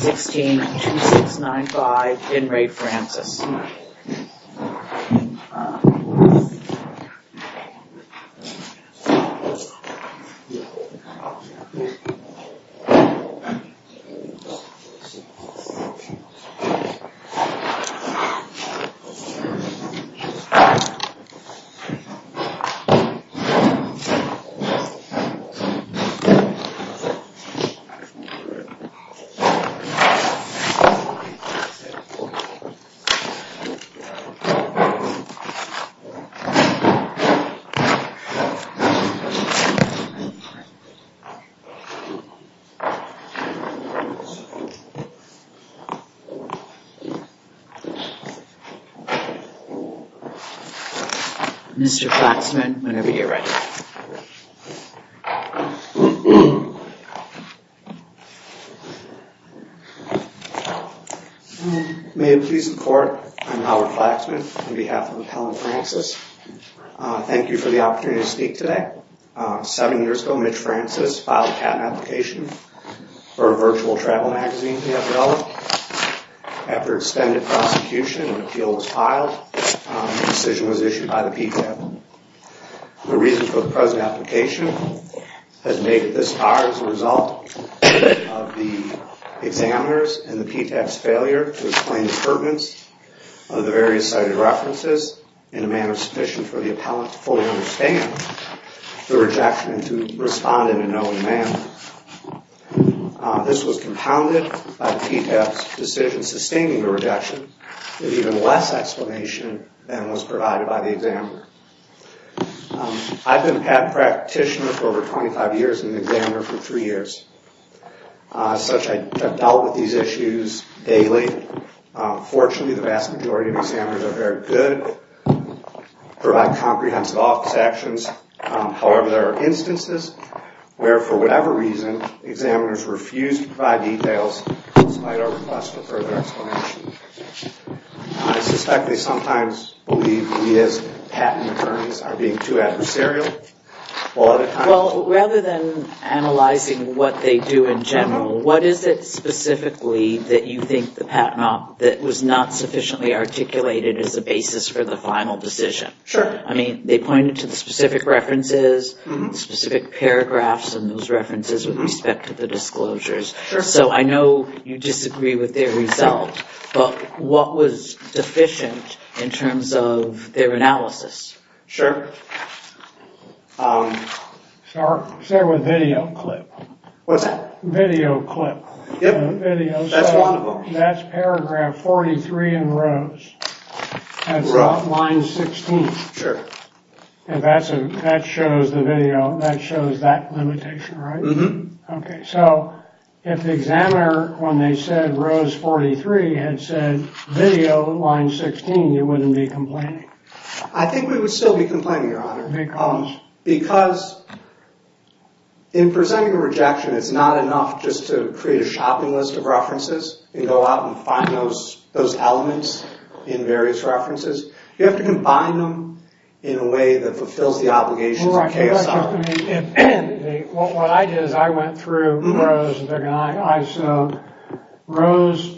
162695 In Re Francis Mr. Klatsman, whenever you're ready. May it please the court, I'm Howard Klatsman, on behalf of Appellant Francis. Thank you for the opportunity to speak today. Seven years ago, Mitch Francis filed a patent application for a virtual travel magazine for the FDL. After extended prosecution and an appeal was filed, the decision was issued by the PTAB. The reason for the present application has made it this far as a result of the examiner's and the PTAB's failure to explain the pertinence of the various cited references in a manner sufficient for the appellant to fully understand the rejection and to respond in a known manner. This was compounded by the PTAB's decision sustaining the rejection with even less explanation than was provided by the examiner. I've been a patent practitioner for over 25 years and an examiner for three years. As such, I've dealt with these issues daily. Fortunately, the vast majority of examiners are very good, provide comprehensive office actions. However, there are instances where, for whatever reason, examiners refuse to provide details despite our request for further explanation. I suspect they sometimes believe we as patent attorneys are being too adversarial. Well, rather than analyzing what they do in general, what is it specifically that you think the patent op that was not sufficiently articulated as a basis for the final decision? I mean, they pointed to specific references, specific paragraphs, and those references with respect to the disclosures. So I know you disagree with their result, but what was deficient in terms of their analysis? Sure. Start with video clip. What's that? Video clip. That's one of them. That's paragraph 43 in Rose. That's line 16. Sure. And that shows the video. That shows that limitation, right? Mm-hmm. OK. So if the examiner, when they said Rose 43, had said video, line 16, you wouldn't be complaining. I think we would still be complaining, Your Honor. Because? Because in presenting a rejection, it's not enough just to create a shopping list of references and go out and find those elements in various references. You have to combine them in a way that fulfills the obligations of KSR. What I did is I went through Rose, and I saw Rose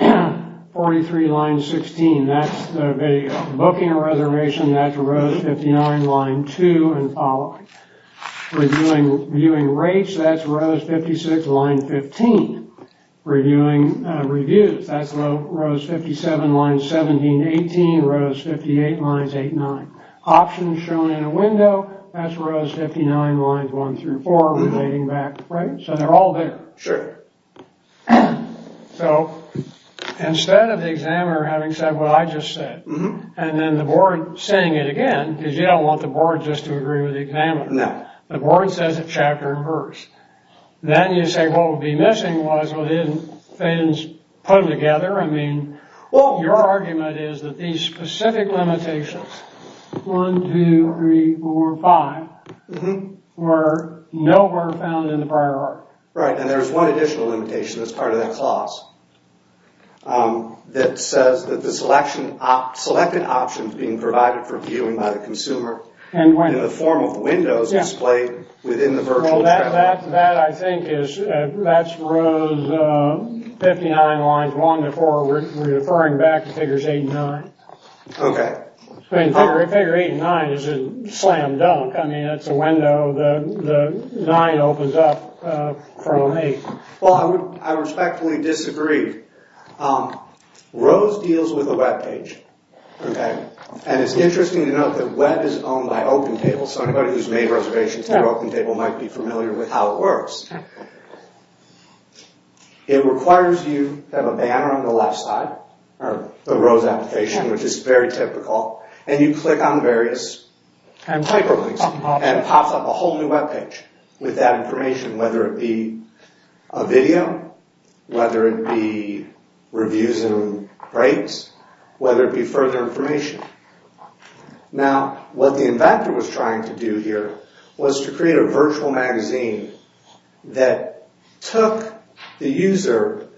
43, line 16. That's the video. Booking a reservation, that's Rose 59, line 2, and following. Reviewing rates, that's Rose 56, line 15. Reviewing reviews, that's Rose 57, line 17, 18. Rose 58, line 8, 9. Options shown in a window, that's Rose 59, lines 1 through 4, relating back. Right? So they're all there. Sure. So, instead of the examiner having said what I just said, and then the board saying it again, because you don't want the board just to agree with the examiner. No. The board says it chapter and verse. Then you say what would be missing was what his friends put together. Your argument is that these specific limitations, 1, 2, 3, 4, 5, were nowhere found in the prior art. Right, and there's one additional limitation that's part of that clause that says that the selected options being provided for viewing by the consumer in the form of windows displayed within the virtual. Well, that I think is, that's Rose 59, lines 1 to 4, referring back to figures 8 and 9. Okay. Figure 8 and 9 is a slam dunk. I mean, it's a window. The 9 opens up from an 8. Well, I respectfully disagree. Rose deals with a web page. Okay. And it's interesting to note that web is owned by OpenTable, so anybody who's made reservations to OpenTable might be familiar with how it works. It requires you to have a banner on the left side, the Rose application, which is very typical, and you click on various hyperlinks, and it pops up a whole new web page with that information, whether it be a video, whether it be reviews and rates, whether it be further information. Now, what the inventor was trying to do here was to create a virtual magazine that took the user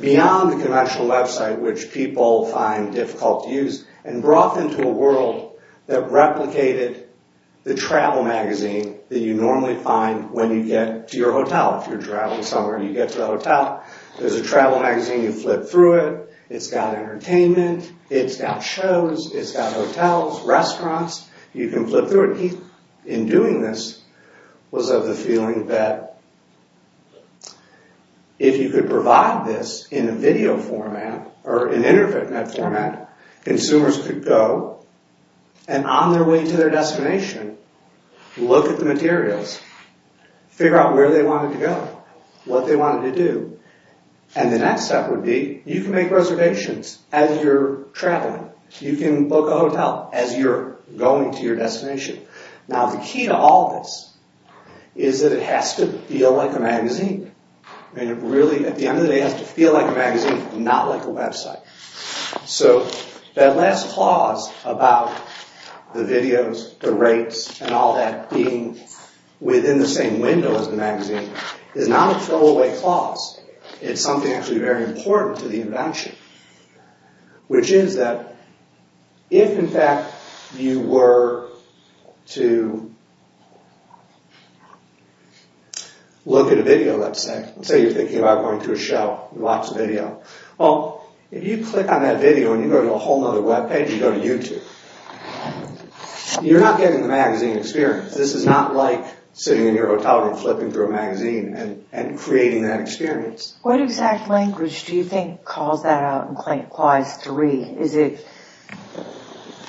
beyond the conventional website, which people find difficult to use, and brought them to a world that replicated the travel magazine that you normally find when you get to your hotel. If you're traveling somewhere and you get to the hotel, there's a travel magazine, you flip through it, it's got entertainment, it's got shows, it's got hotels, restaurants, you can flip through it. The difficulty in doing this was of the feeling that if you could provide this in a video format or an internet format, consumers could go and on their way to their destination, look at the materials, figure out where they wanted to go, what they wanted to do, and the next step would be you can make reservations as you're traveling. You can book a hotel as you're going to your destination. Now, the key to all this is that it has to feel like a magazine, and it really, at the end of the day, has to feel like a magazine, not like a website. So, that last clause about the videos, the rates, and all that being within the same window as the magazine is not a throwaway clause. It's something actually very important to the invention, which is that if, in fact, you were to look at a video, let's say. Let's say you're thinking about going to a show, you watch a video. Well, if you click on that video and you go to a whole other webpage, you go to YouTube, you're not getting the magazine experience. This is not like sitting in your hotel room flipping through a magazine and creating that experience. What exact language do you think calls that out in Clause 3? Is it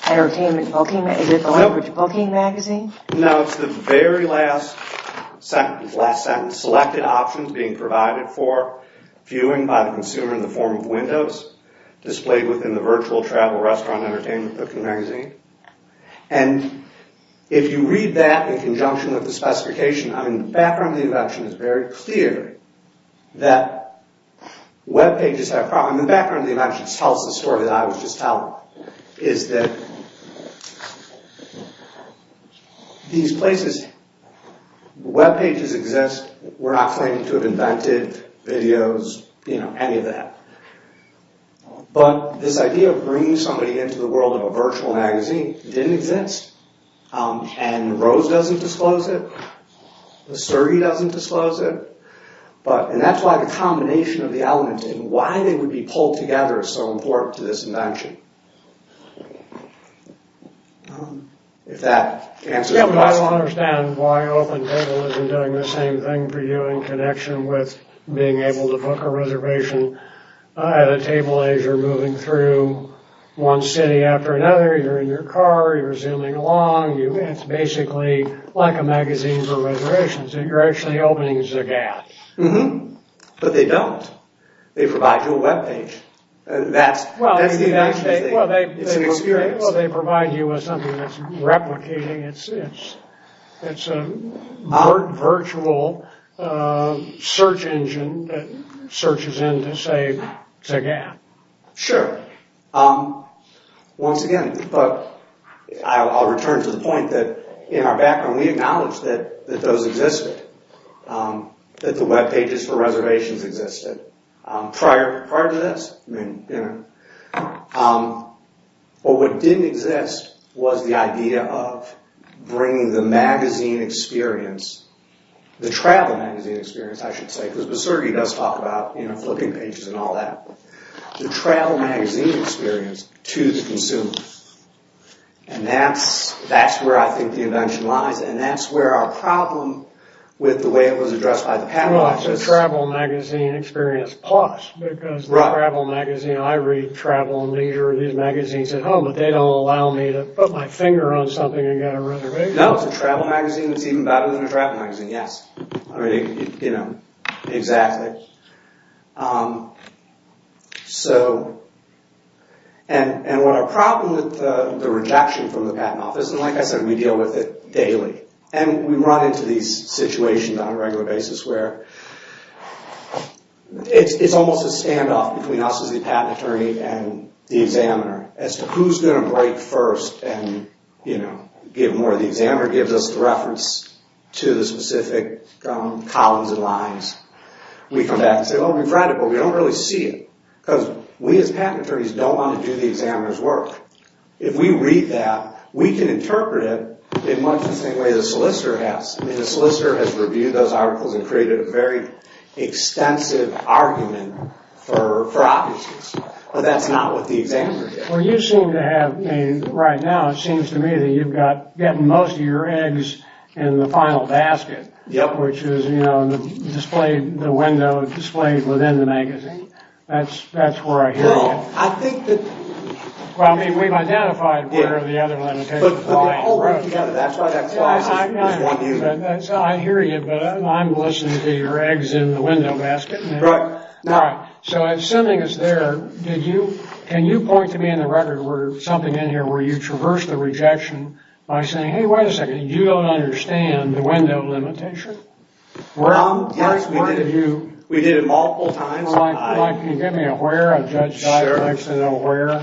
entertainment booking? Is it the language booking magazine? No, it's the very last sentence. Selected options being provided for viewing by the consumer in the form of windows displayed within the virtual travel restaurant entertainment booking magazine. And if you read that in conjunction with the specification, I mean, the background of the invention is very clear that webpages have problems. The background of the invention tells the story that I was just telling, is that these places, webpages exist. We're not claiming to have invented videos, any of that. But this idea of bringing somebody into the world of a virtual magazine didn't exist, and Rose doesn't disclose it. The Surrey doesn't disclose it. And that's why the combination of the elements and why they would be pulled together is so important to this invention. If that answers the question. Yeah, but I don't understand why OpenTable isn't doing the same thing for you in connection with being able to book a reservation at a table as you're moving through one city after another. You're in your car, you're zooming along. It's basically like a magazine for reservations. You're actually opening Zagat. But they don't. They provide you a webpage. Well, they provide you with something that's replicating. It's a virtual search engine that searches in to, say, Zagat. Sure. Once again, I'll return to the point that in our background, we acknowledge that those existed. That the webpages for reservations existed prior to this. But what didn't exist was the idea of bringing the magazine experience, the travel magazine experience, I should say. Because the Surrey does talk about flipping pages and all that. To bring the travel magazine experience to the consumer. And that's where I think the invention lies. And that's where our problem with the way it was addressed by the patent office. Right, so travel magazine experience plus. Because the travel magazine, I read travel and leisure, these magazines at home. But they don't allow me to put my finger on something and get a reservation. No, it's a travel magazine that's even better than a travel magazine. Yes. Exactly. Okay. And what our problem with the rejection from the patent office. And like I said, we deal with it daily. And we run into these situations on a regular basis where it's almost a standoff between us as the patent attorney and the examiner. As to who's going to break first and give more. The examiner gives us the reference to the specific columns and lines. And then we come back and say, oh, we've read it, but we don't really see it. Because we as patent attorneys don't want to do the examiner's work. If we read that, we can interpret it in much the same way the solicitor has. I mean, the solicitor has reviewed those articles and created a very extensive argument for obvious reasons. But that's not what the examiner did. Well, you seem to have, right now, it seems to me that you've got most of your eggs in the final basket. Yep. Which is, you know, displayed, the window displayed within the magazine. That's where I hear you. Well, I think that... Well, I mean, we've identified where the other limitations are. But the whole room together, that's why that class is one view. I hear you, but I'm listening to your eggs in the window basket. Right. So, assuming it's there, did you, can you point to me in the record where something in here where you traverse the rejection by saying, hey, wait a second, you don't understand the window limitation? Well, yes, we did. We did it multiple times. Mike, can you give me a where? Sure. I'd like to know where.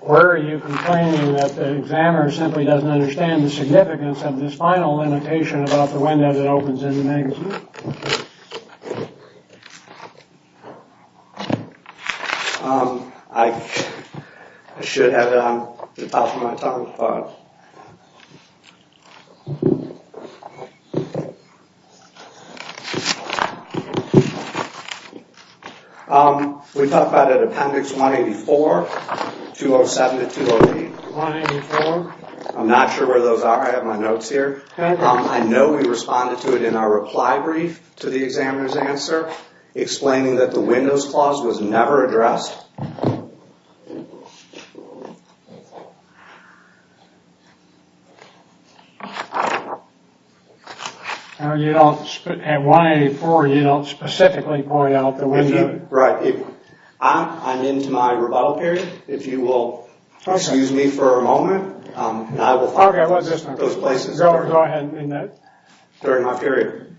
Where are you complaining that the examiner simply doesn't understand the significance of this final limitation about the window that opens in the magazine? I should have it on the top of my tongue, but... Okay. We talked about it at appendix 184, 207 to 208. 184. I'm not sure where those are. I have my notes here. I know we responded to it in our reply brief to the examiner's answer, explaining that the windows clause was never addressed. You don't, at 184, you don't specifically point out the window. Right. I'm into my rebuttal period. If you will excuse me for a moment, and I will find those places during my period.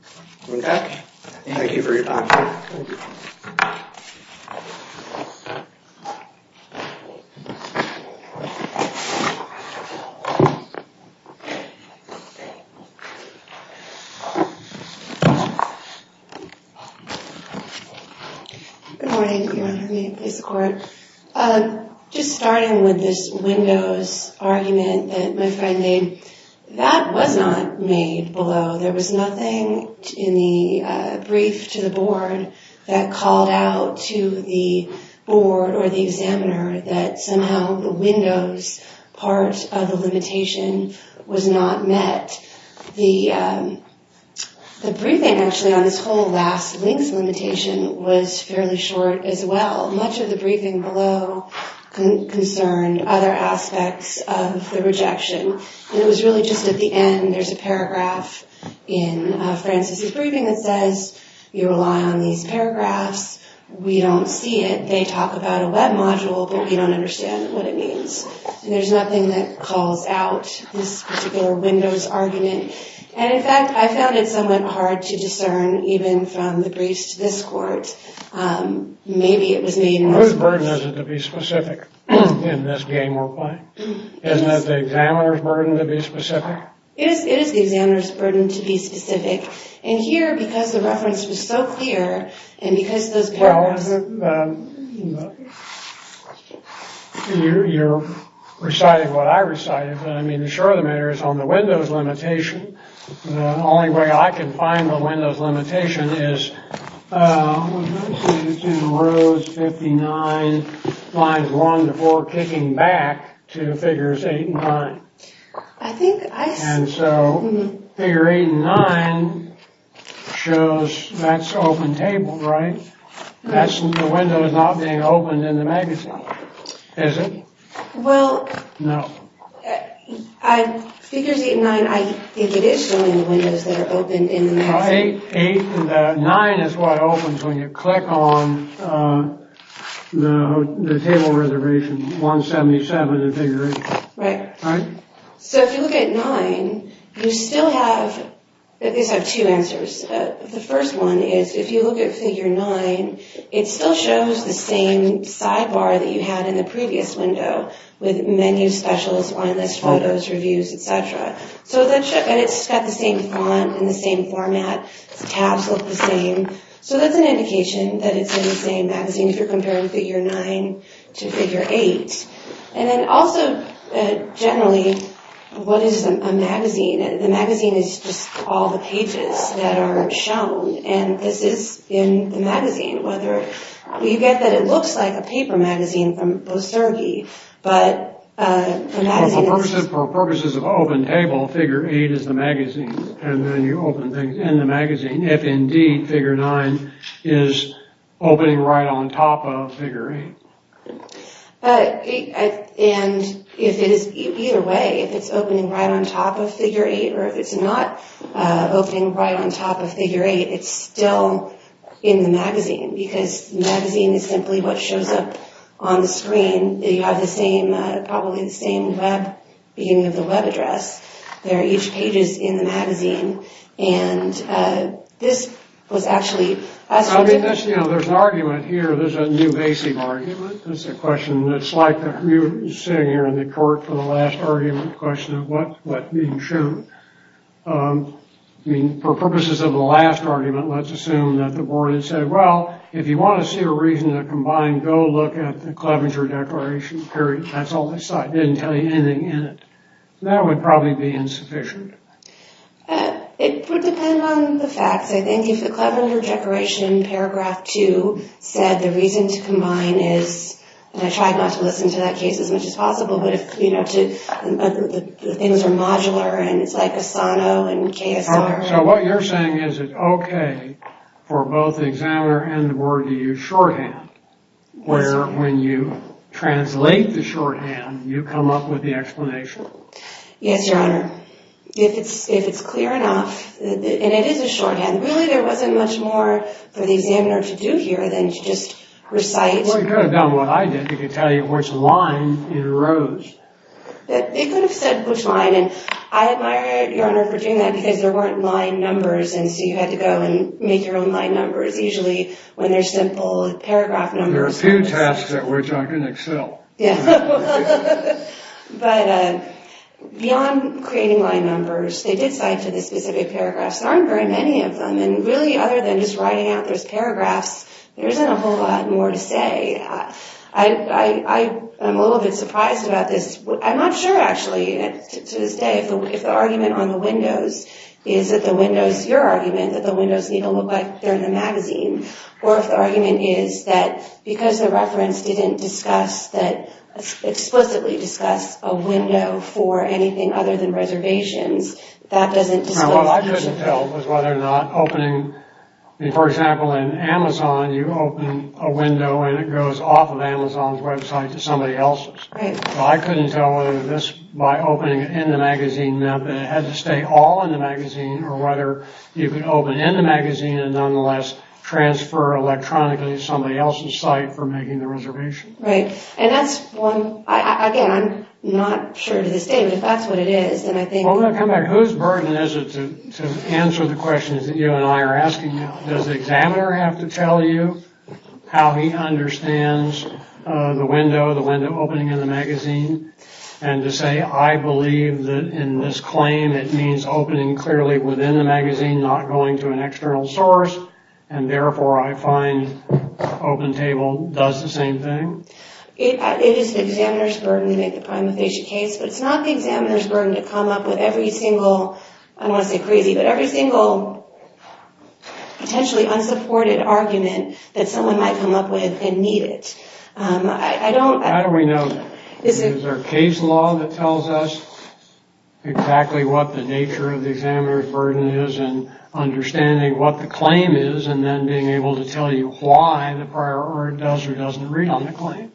Okay. Thank you for your time. Good morning, Your Honor. May it please the Court. Just starting with this windows argument that my friend made, that was not made below. There was nothing in the brief to the board that called out to the board or the examiner that somehow the windows part of the limitation was not met. The briefing, actually, on this whole last links limitation was fairly short as well. Much of the briefing below concerned other aspects of the rejection. It was really just at the end, there's a paragraph in Francis' briefing that says, you rely on these paragraphs. We don't see it. They talk about a web module, but we don't understand what it means. And there's nothing that calls out this particular windows argument. And in fact, I found it somewhat hard to discern even from the briefs to this Court. Maybe it was made. Whose burden is it to be specific in this game we're playing? Isn't it the examiner's burden to be specific? It is the examiner's burden to be specific. And here, because the reference was so clear, and because those paragraphs. You're reciting what I recited, but I mean, sure, the matter is on the windows limitation. The only way I can find the windows limitation is 59, lines 1 to 4, kicking back to figures 8 and 9. And so figure 8 and 9 shows that's open table, right? The window is not being opened in the magazine, is it? Well, figures 8 and 9, I think it is showing the windows that are open in the magazine. 9 is what opens when you click on the table reservation, 177 in figure 8. Right. So if you look at 9, you still have, at least have two answers. The first one is if you look at figure 9, it still shows the same sidebar that you had in the previous window with menu specials, line list photos, reviews, etc. So it's got the same font and the same format. The tabs look the same. So that's an indication that it's in the same magazine if you're comparing figure 9 to figure 8. And then also, generally, what is a magazine? The magazine is just all the pages that are shown. And this is in the magazine. You get that it looks like a paper magazine from Berserke, but the magazine is... For purposes of open table, figure 8 is the magazine. And then you open things in the magazine if, indeed, figure 9 is opening right on top of figure 8. And if it is, either way, if it's opening right on top of figure 8 or if it's not opening right on top of figure 8, it's still in the magazine because the magazine is simply what shows up on the screen. You have the same, probably the same web, beginning of the web address. There are each pages in the magazine. And this was actually... There's an argument here. There's a new basic argument. It's a question that's like you sitting here in the court for the last argument question of what being shown. I mean, for purposes of the last argument, let's assume that the board had said, well, if you want to see a reason to combine, go look at the Clevenger Declaration, period. That's all they saw. It didn't tell you anything in it. That would probably be insufficient. It would depend on the facts. I think if the Clevenger Declaration, paragraph 2, said the reason to combine is, and I tried not to listen to that case as much as possible, but if, you know, the things are modular and it's like Asano and KSR. So what you're saying is it okay for both the examiner and the board to use shorthand, where when you translate the shorthand, you come up with the explanation? Yes, Your Honor. If it's clear enough, and it is a shorthand, really there wasn't much more for the examiner to do here than to just recite. Well, he could have done what I did. He could tell you which line it arose. He could have said which line, and I admire Your Honor for doing that because there weren't line numbers, and so you had to go and make your own line numbers, usually when they're simple paragraph numbers. There are a few tasks that we're talking Excel. But beyond creating line numbers, they did cite to the specific paragraphs. There aren't very many of them, and really other than just writing out those paragraphs, there isn't a whole lot more to say. I'm a little bit surprised about this. I'm not sure, actually, to this day, if the argument on the windows is that the windows, your argument, that the windows need to look like they're in the magazine, or if the argument is that because the reference didn't discuss that explicitly discuss a window for anything other than reservations, that doesn't disclose... What I couldn't tell was whether or not opening... For example, in Amazon, you open a window, and it goes off of Amazon's website to somebody else's. I couldn't tell whether this, by opening it in the magazine, meant that it had to stay all in the magazine, or whether you could open in the magazine and nonetheless transfer electronically to somebody else's site for making the reservation. And that's one... Again, I'm not sure to this day, but if that's what it is, then I think... I'm going to come back. Whose burden is it to answer the questions that you and I are asking now? Does the examiner have to tell you how he understands the window, the window opening in the magazine, and to say, I believe that in this claim, it means opening clearly within the magazine, not going to an external source, and therefore I find OpenTable does the same thing? It is the examiner's burden to make the prima facie case, but it's not the examiner's burden to come up with every single... I don't want to say crazy, but every single potentially unsupported argument that someone might come up with and need it. I don't... How do we know that? Is there a case law that tells us exactly what the nature of the examiner's burden is, and understanding what the claim is, and then being able to tell you why the prior order does or doesn't read on the claim?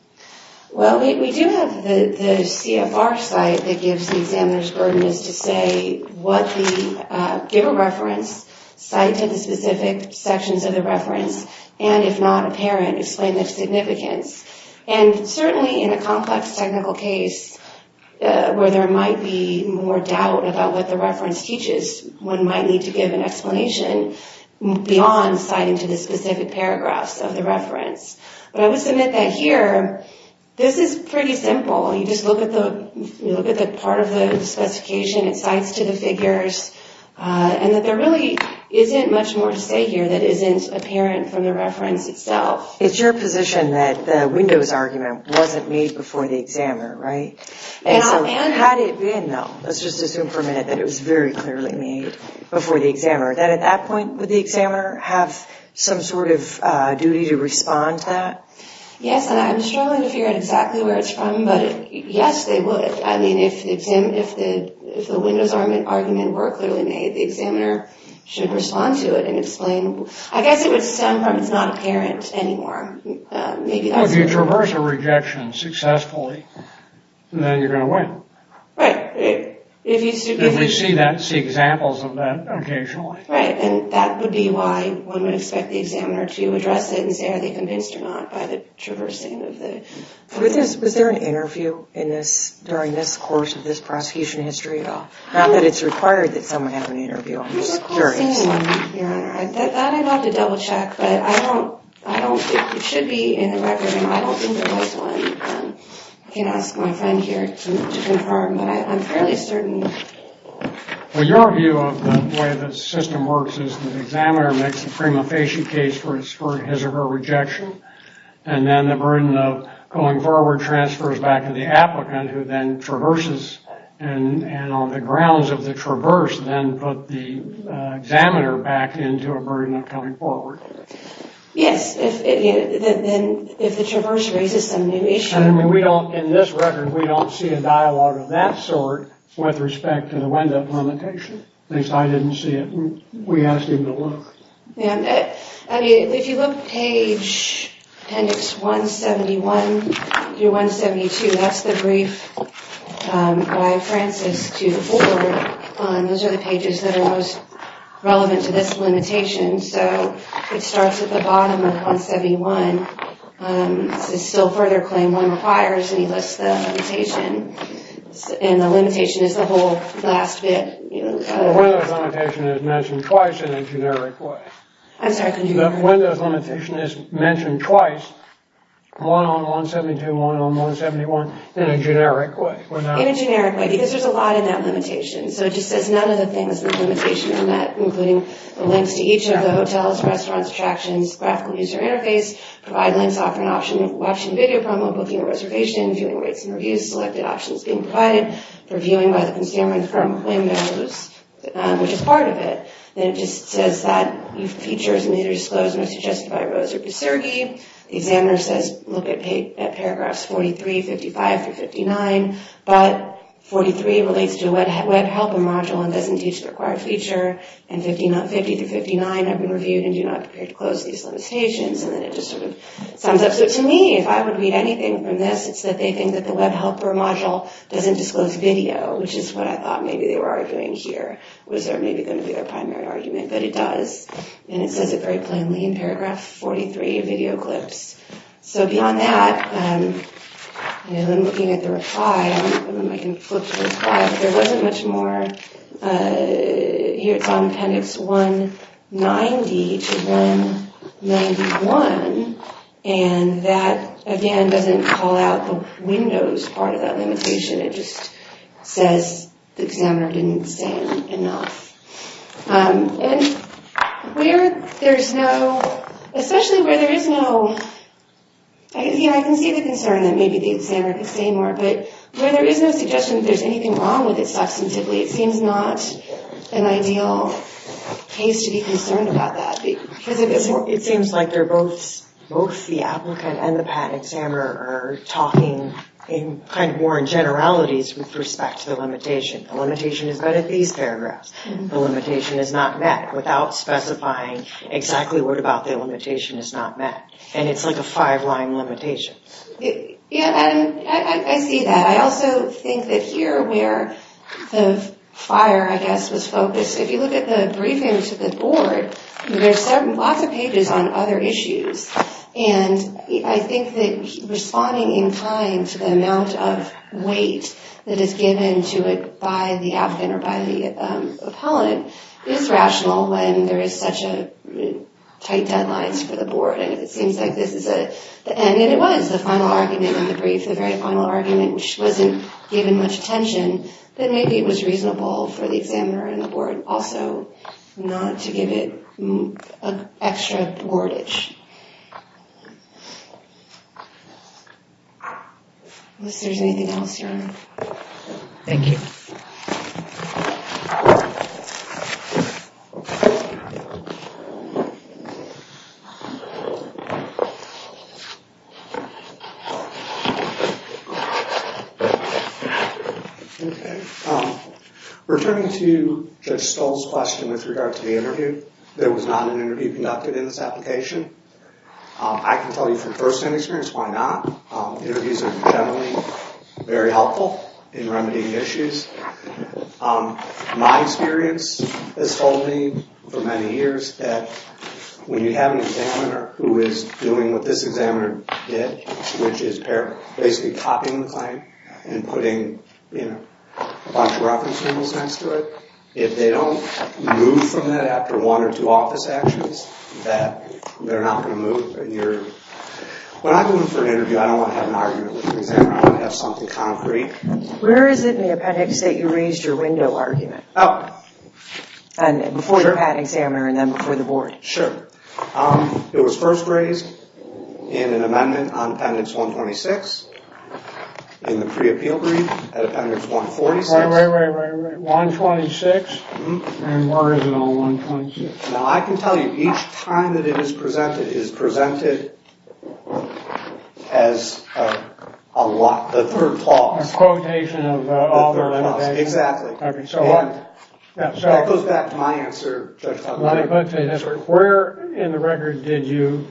Well, we do have the CFR site that gives the examiner's burden is to say what the... give a reference, cite to the specific sections of the reference, and if not apparent, explain the significance. And certainly in a complex technical case where there might be more doubt about what the reference teaches, one might need to give an explanation beyond citing to the specific paragraphs of the reference. But I will submit that here, this is pretty simple. You just look at the part of the specification, it cites to the figures, and that there really isn't much more to say here that isn't apparent from the reference itself. It's your position that the windows argument wasn't made before the examiner, right? And so had it been, though, let's just assume for a minute that it was very clearly made before the examiner, that at that point would the examiner have some sort of duty to respond to that? Yes, and I'm struggling to figure out exactly where it's from, but yes, they would. I mean, if the windows argument were clearly made, the examiner should respond to it and explain... I guess it would stem from it's not apparent anymore. Maybe that's... Well, if you traverse a rejection successfully, then you're going to win. Right. If we see that, see examples of that occasionally. Right, and that would be why one would expect the examiner to address it and say are they convinced or not by the traversing of the... Was there an interview in this, during this course of this prosecution history at all? Not that it's required that someone have an interview. I'm just curious. I thought I'd have to double check, but I don't think it should be in the record, and I don't think there was one. I can't ask my friend here to confirm, but I'm fairly certain. Well, your view of the way the system works is the examiner makes the prima facie case for his or her rejection, and then the burden of going forward transfers back to the applicant who then traverses, and on the grounds of the traverse then put the examiner back into a burden of coming forward. Yes. Then if the traverse raises some new issues... I mean, we don't, in this record, we don't see a dialogue of that sort with respect to the wind-up limitation. At least I didn't see it. We asked him to look. I mean, if you look page appendix 171 through 172, that's the brief by Francis to the board. Those are the pages that are most relevant to this limitation, so it starts at the bottom of 171. It's a still-further claim. One requires, and he lists the limitation, and the limitation is the whole last bit. Well, one of those limitations is mentioned twice in the generic report. I'm sorry, can you... The windows limitation is mentioned twice, one on 172, one on 171, in a generic way. In a generic way, because there's a lot in that limitation. So it just says none of the things in the limitation are met, including the links to each of the hotels, restaurants, attractions, graphical user interface, provide links offer an option, option video promo, booking a reservation, viewing rates and reviews, selected options being provided for viewing by the consumer from Windows, which is part of it. Then it just says that features may be disclosed and are suggested by Rose or Pesergi. The examiner says, look at paragraphs 43, 55 through 59, but 43 relates to a web helper module and doesn't teach the required feature, and 50 through 59, I've been reviewed and do not prepare to close these limitations, and then it just sort of sums up. It says that they think that the web helper module doesn't disclose video, which is what I thought maybe they were arguing here. Was there maybe going to be their primary argument, but it does, and it says it very plainly in paragraph 43, video clips. So beyond that, and then looking at the reply, I don't know if I can flip the reply, but there wasn't much more. Here it's on appendix 190 to 191, and it just sort of windows part of that limitation. It just says the examiner didn't say enough. And where there's no, especially where there is no, I can see the concern that maybe the examiner could say more, but where there is no suggestion that there's anything wrong with it substantively, it seems not an ideal case to be concerned about that. It seems like they're both, both the applicant and the patent examiner are talking in kind of more in generalities with respect to the limitation. The limitation is met at these paragraphs. The limitation is not met without specifying exactly what about the limitation is not met. And it's like a five-line limitation. Yeah, and I see that. I also think that here where the fire, I guess, was focused, if you look at the briefing to the board, there's lots of pages on other issues. And I think that responding in kind to the amount of weight that is given to it by the applicant or by the appellant is rational when there is such tight deadlines for the board. And if it seems like this is the end, and it was, the final argument in the brief, the very final argument, which wasn't given much attention, then maybe it was reasonable for the examiner and the board also not to give it an extra wordage. Unless there's anything else, Your Honor. Thank you. Okay. Returning to Judge Stoll's question with regard to the interview, there was not an interview conducted in this application. I can tell you from first-hand experience why not. Interviews are generally very helpful in remedying issues. My experience has told me for many years that when you have an examiner who is doing what this examiner did, which is basically copying the claim and putting a bunch of reference rules next to it, if they don't move from that after one or two office actions, that they're not going to move. When I go in for an interview, I don't want to have an argument with the examiner. I want to have something concrete. Where is it in the appendix that you raised your window argument? Oh. And before you had an examiner and then before the board. Sure. It was first raised in an amendment on Appendix 126 in the pre-appeal brief at Appendix 146. Wait, wait, wait. 126? And where is it on 126? Now, I can tell you each time that it is presented is presented as a lot. The third clause. A quotation of author limitation. Exactly. That goes back to my answer. Where in the record did you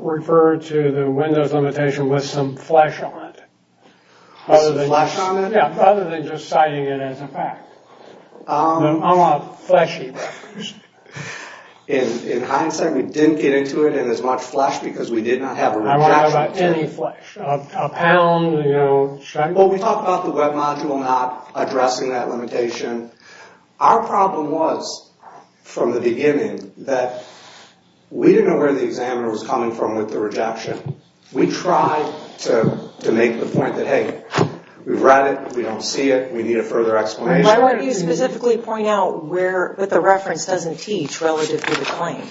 refer to the windows limitation with some flesh on it? Other than flesh on it? Yeah. Other than just citing it as a fact. I want a fleshy record. In hindsight, we didn't get into it in as much flesh because we did not have a rejection. I want to have any flesh. A pound, you know. Well, we talked about the web module not addressing that limitation. Our problem was from the beginning that we didn't know where the examiner was coming from with the rejection. We tried to make the point that, hey, we've read it. We don't see it. We need a further explanation. Why don't you specifically point out what the reference doesn't teach relative to the claim?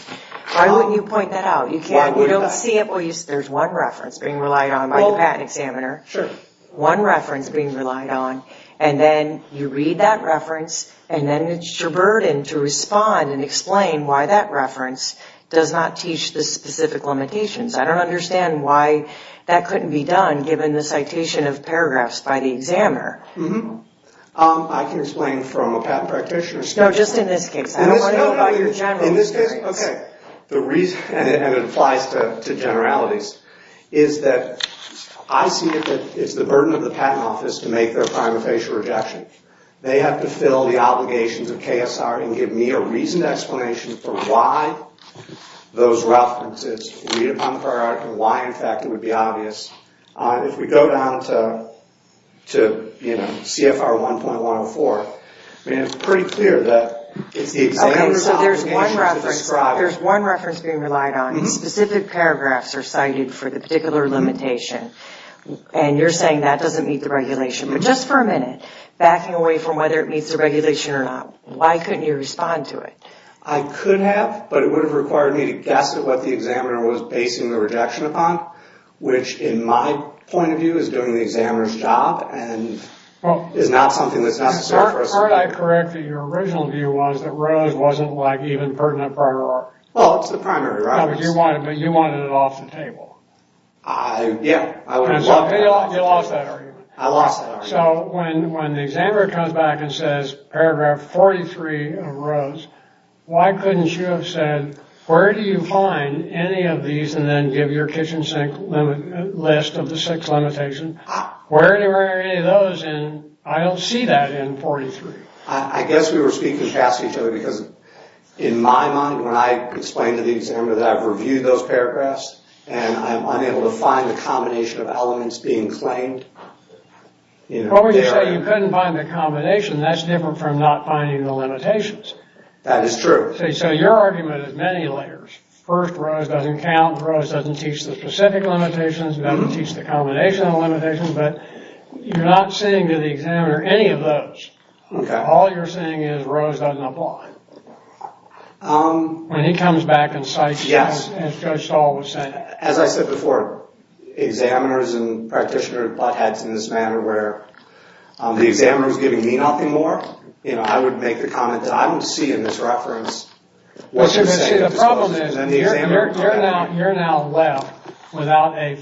Why don't you point that out? You don't see it. There's one reference being relied on by the patent examiner. Sure. One reference being relied on and then you read that reference and then it's your burden to respond and explain why that reference does not teach the specific limitations. I don't understand why that couldn't be done given the citation of paragraphs by the examiner. Mm-hmm. I can explain from a patent practitioner's standpoint. No, just in this case. I don't want to know about your general experience. In this case? Okay. And it applies to generalities is that I see it that it's the burden of the patent office to make their prima facie rejection. They have to fill the obligations of KSR and give me a reasoned explanation for why those references read upon the paragraph and why, in fact, it would be obvious. If we go down to CFR 1.104, it's pretty clear that it's the examiner that's obligated to describe it. Okay, so there's one reference being relied on and specific paragraphs are cited for the particular limitation. And you're saying that doesn't meet the regulation. But just for a minute, backing away from whether it meets the regulation or not, why couldn't you respond to it? I could have, but it would have required me to guess at what the examiner was basing the rejection upon, which, in my point of view, is doing the examiner's job and is not something that's necessary for us to do. Aren't I correct that your original view was that Rose wasn't, like, even pertinent priority? Well, it's the primary, right? No, but you wanted it off the table. Yeah, I would have loved that. You lost that argument. I lost that argument. So when the examiner comes back and says paragraph 43 of Rose, why couldn't you have said, where do you find any of these and then give your kitchen sink list of the six limitations? Where do you find any of those and I don't see that in 43? I guess we were speaking past each other because in my mind, when I explained to the examiner that I've reviewed those paragraphs and I'm unable to find the combination of elements being claimed. What would you say? You couldn't find the combination. That's different from not finding the limitations. That is true. So your argument is many layers. First, Rose doesn't count. Rose doesn't teach the specific limitations. It doesn't teach the combination of limitations but you're not saying to the examiner any of those. Okay. All you're saying is Rose doesn't apply. Um. When he comes back and cites as Judge Stahl was saying. As I said before, examiners and practitioners butt heads in this manner where the examiner is giving me nothing more. I would make the comment that I don't see in this reference what's at stake. The problem is you're now left without a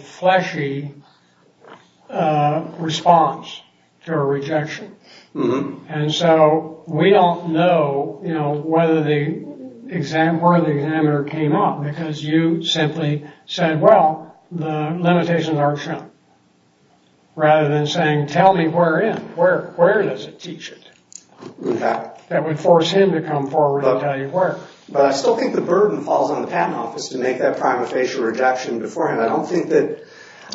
response to a rejection. And so we don't know you know whether the exam where the examiner came up because you simply said well the limitations aren't shown. Rather than saying tell me where in. Where? Where does it teach it? Okay. That would force him to come forward and tell you where. But I still think the burden falls on the patent office to make that prima facie rejection beforehand. I don't think that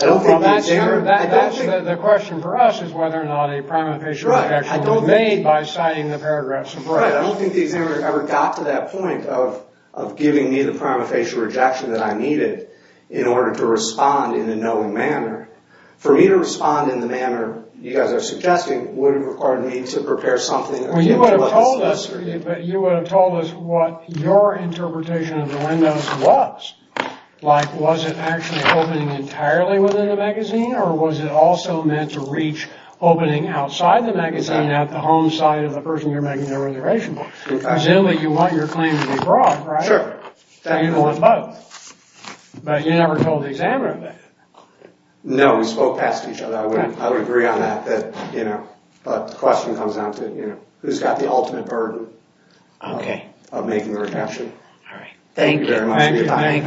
I don't think the examiner I don't think The question for us is whether or not a prima facie rejection was made by citing the paragraphs I don't think the examiner ever got to that point of giving me the prima facie rejection that I needed in order to respond in a knowing manner. For me to respond in the manner you guys are suggesting would have required me to prepare something Well you would have told us but you would have told us what your interpretation of the windows was. Like, was it actually opening entirely within the magazine or was it also meant to reach opening outside the magazine at the home side of the person you're making their reservation for? Presumably you want your claim to be broad, right? Sure. So you'd want both. But you never told the examiner that. No, we spoke past each other. I would agree on that. But the question comes down to who's got the knowledge and would be. it is. Okay. Thank you very much. Thank you. Good morning. That concludes the proceedings this morning. All right. Thank you. Thank you. Thank you. Thank you. Thank you. Thank you. Thank you. Thank you. Thank you.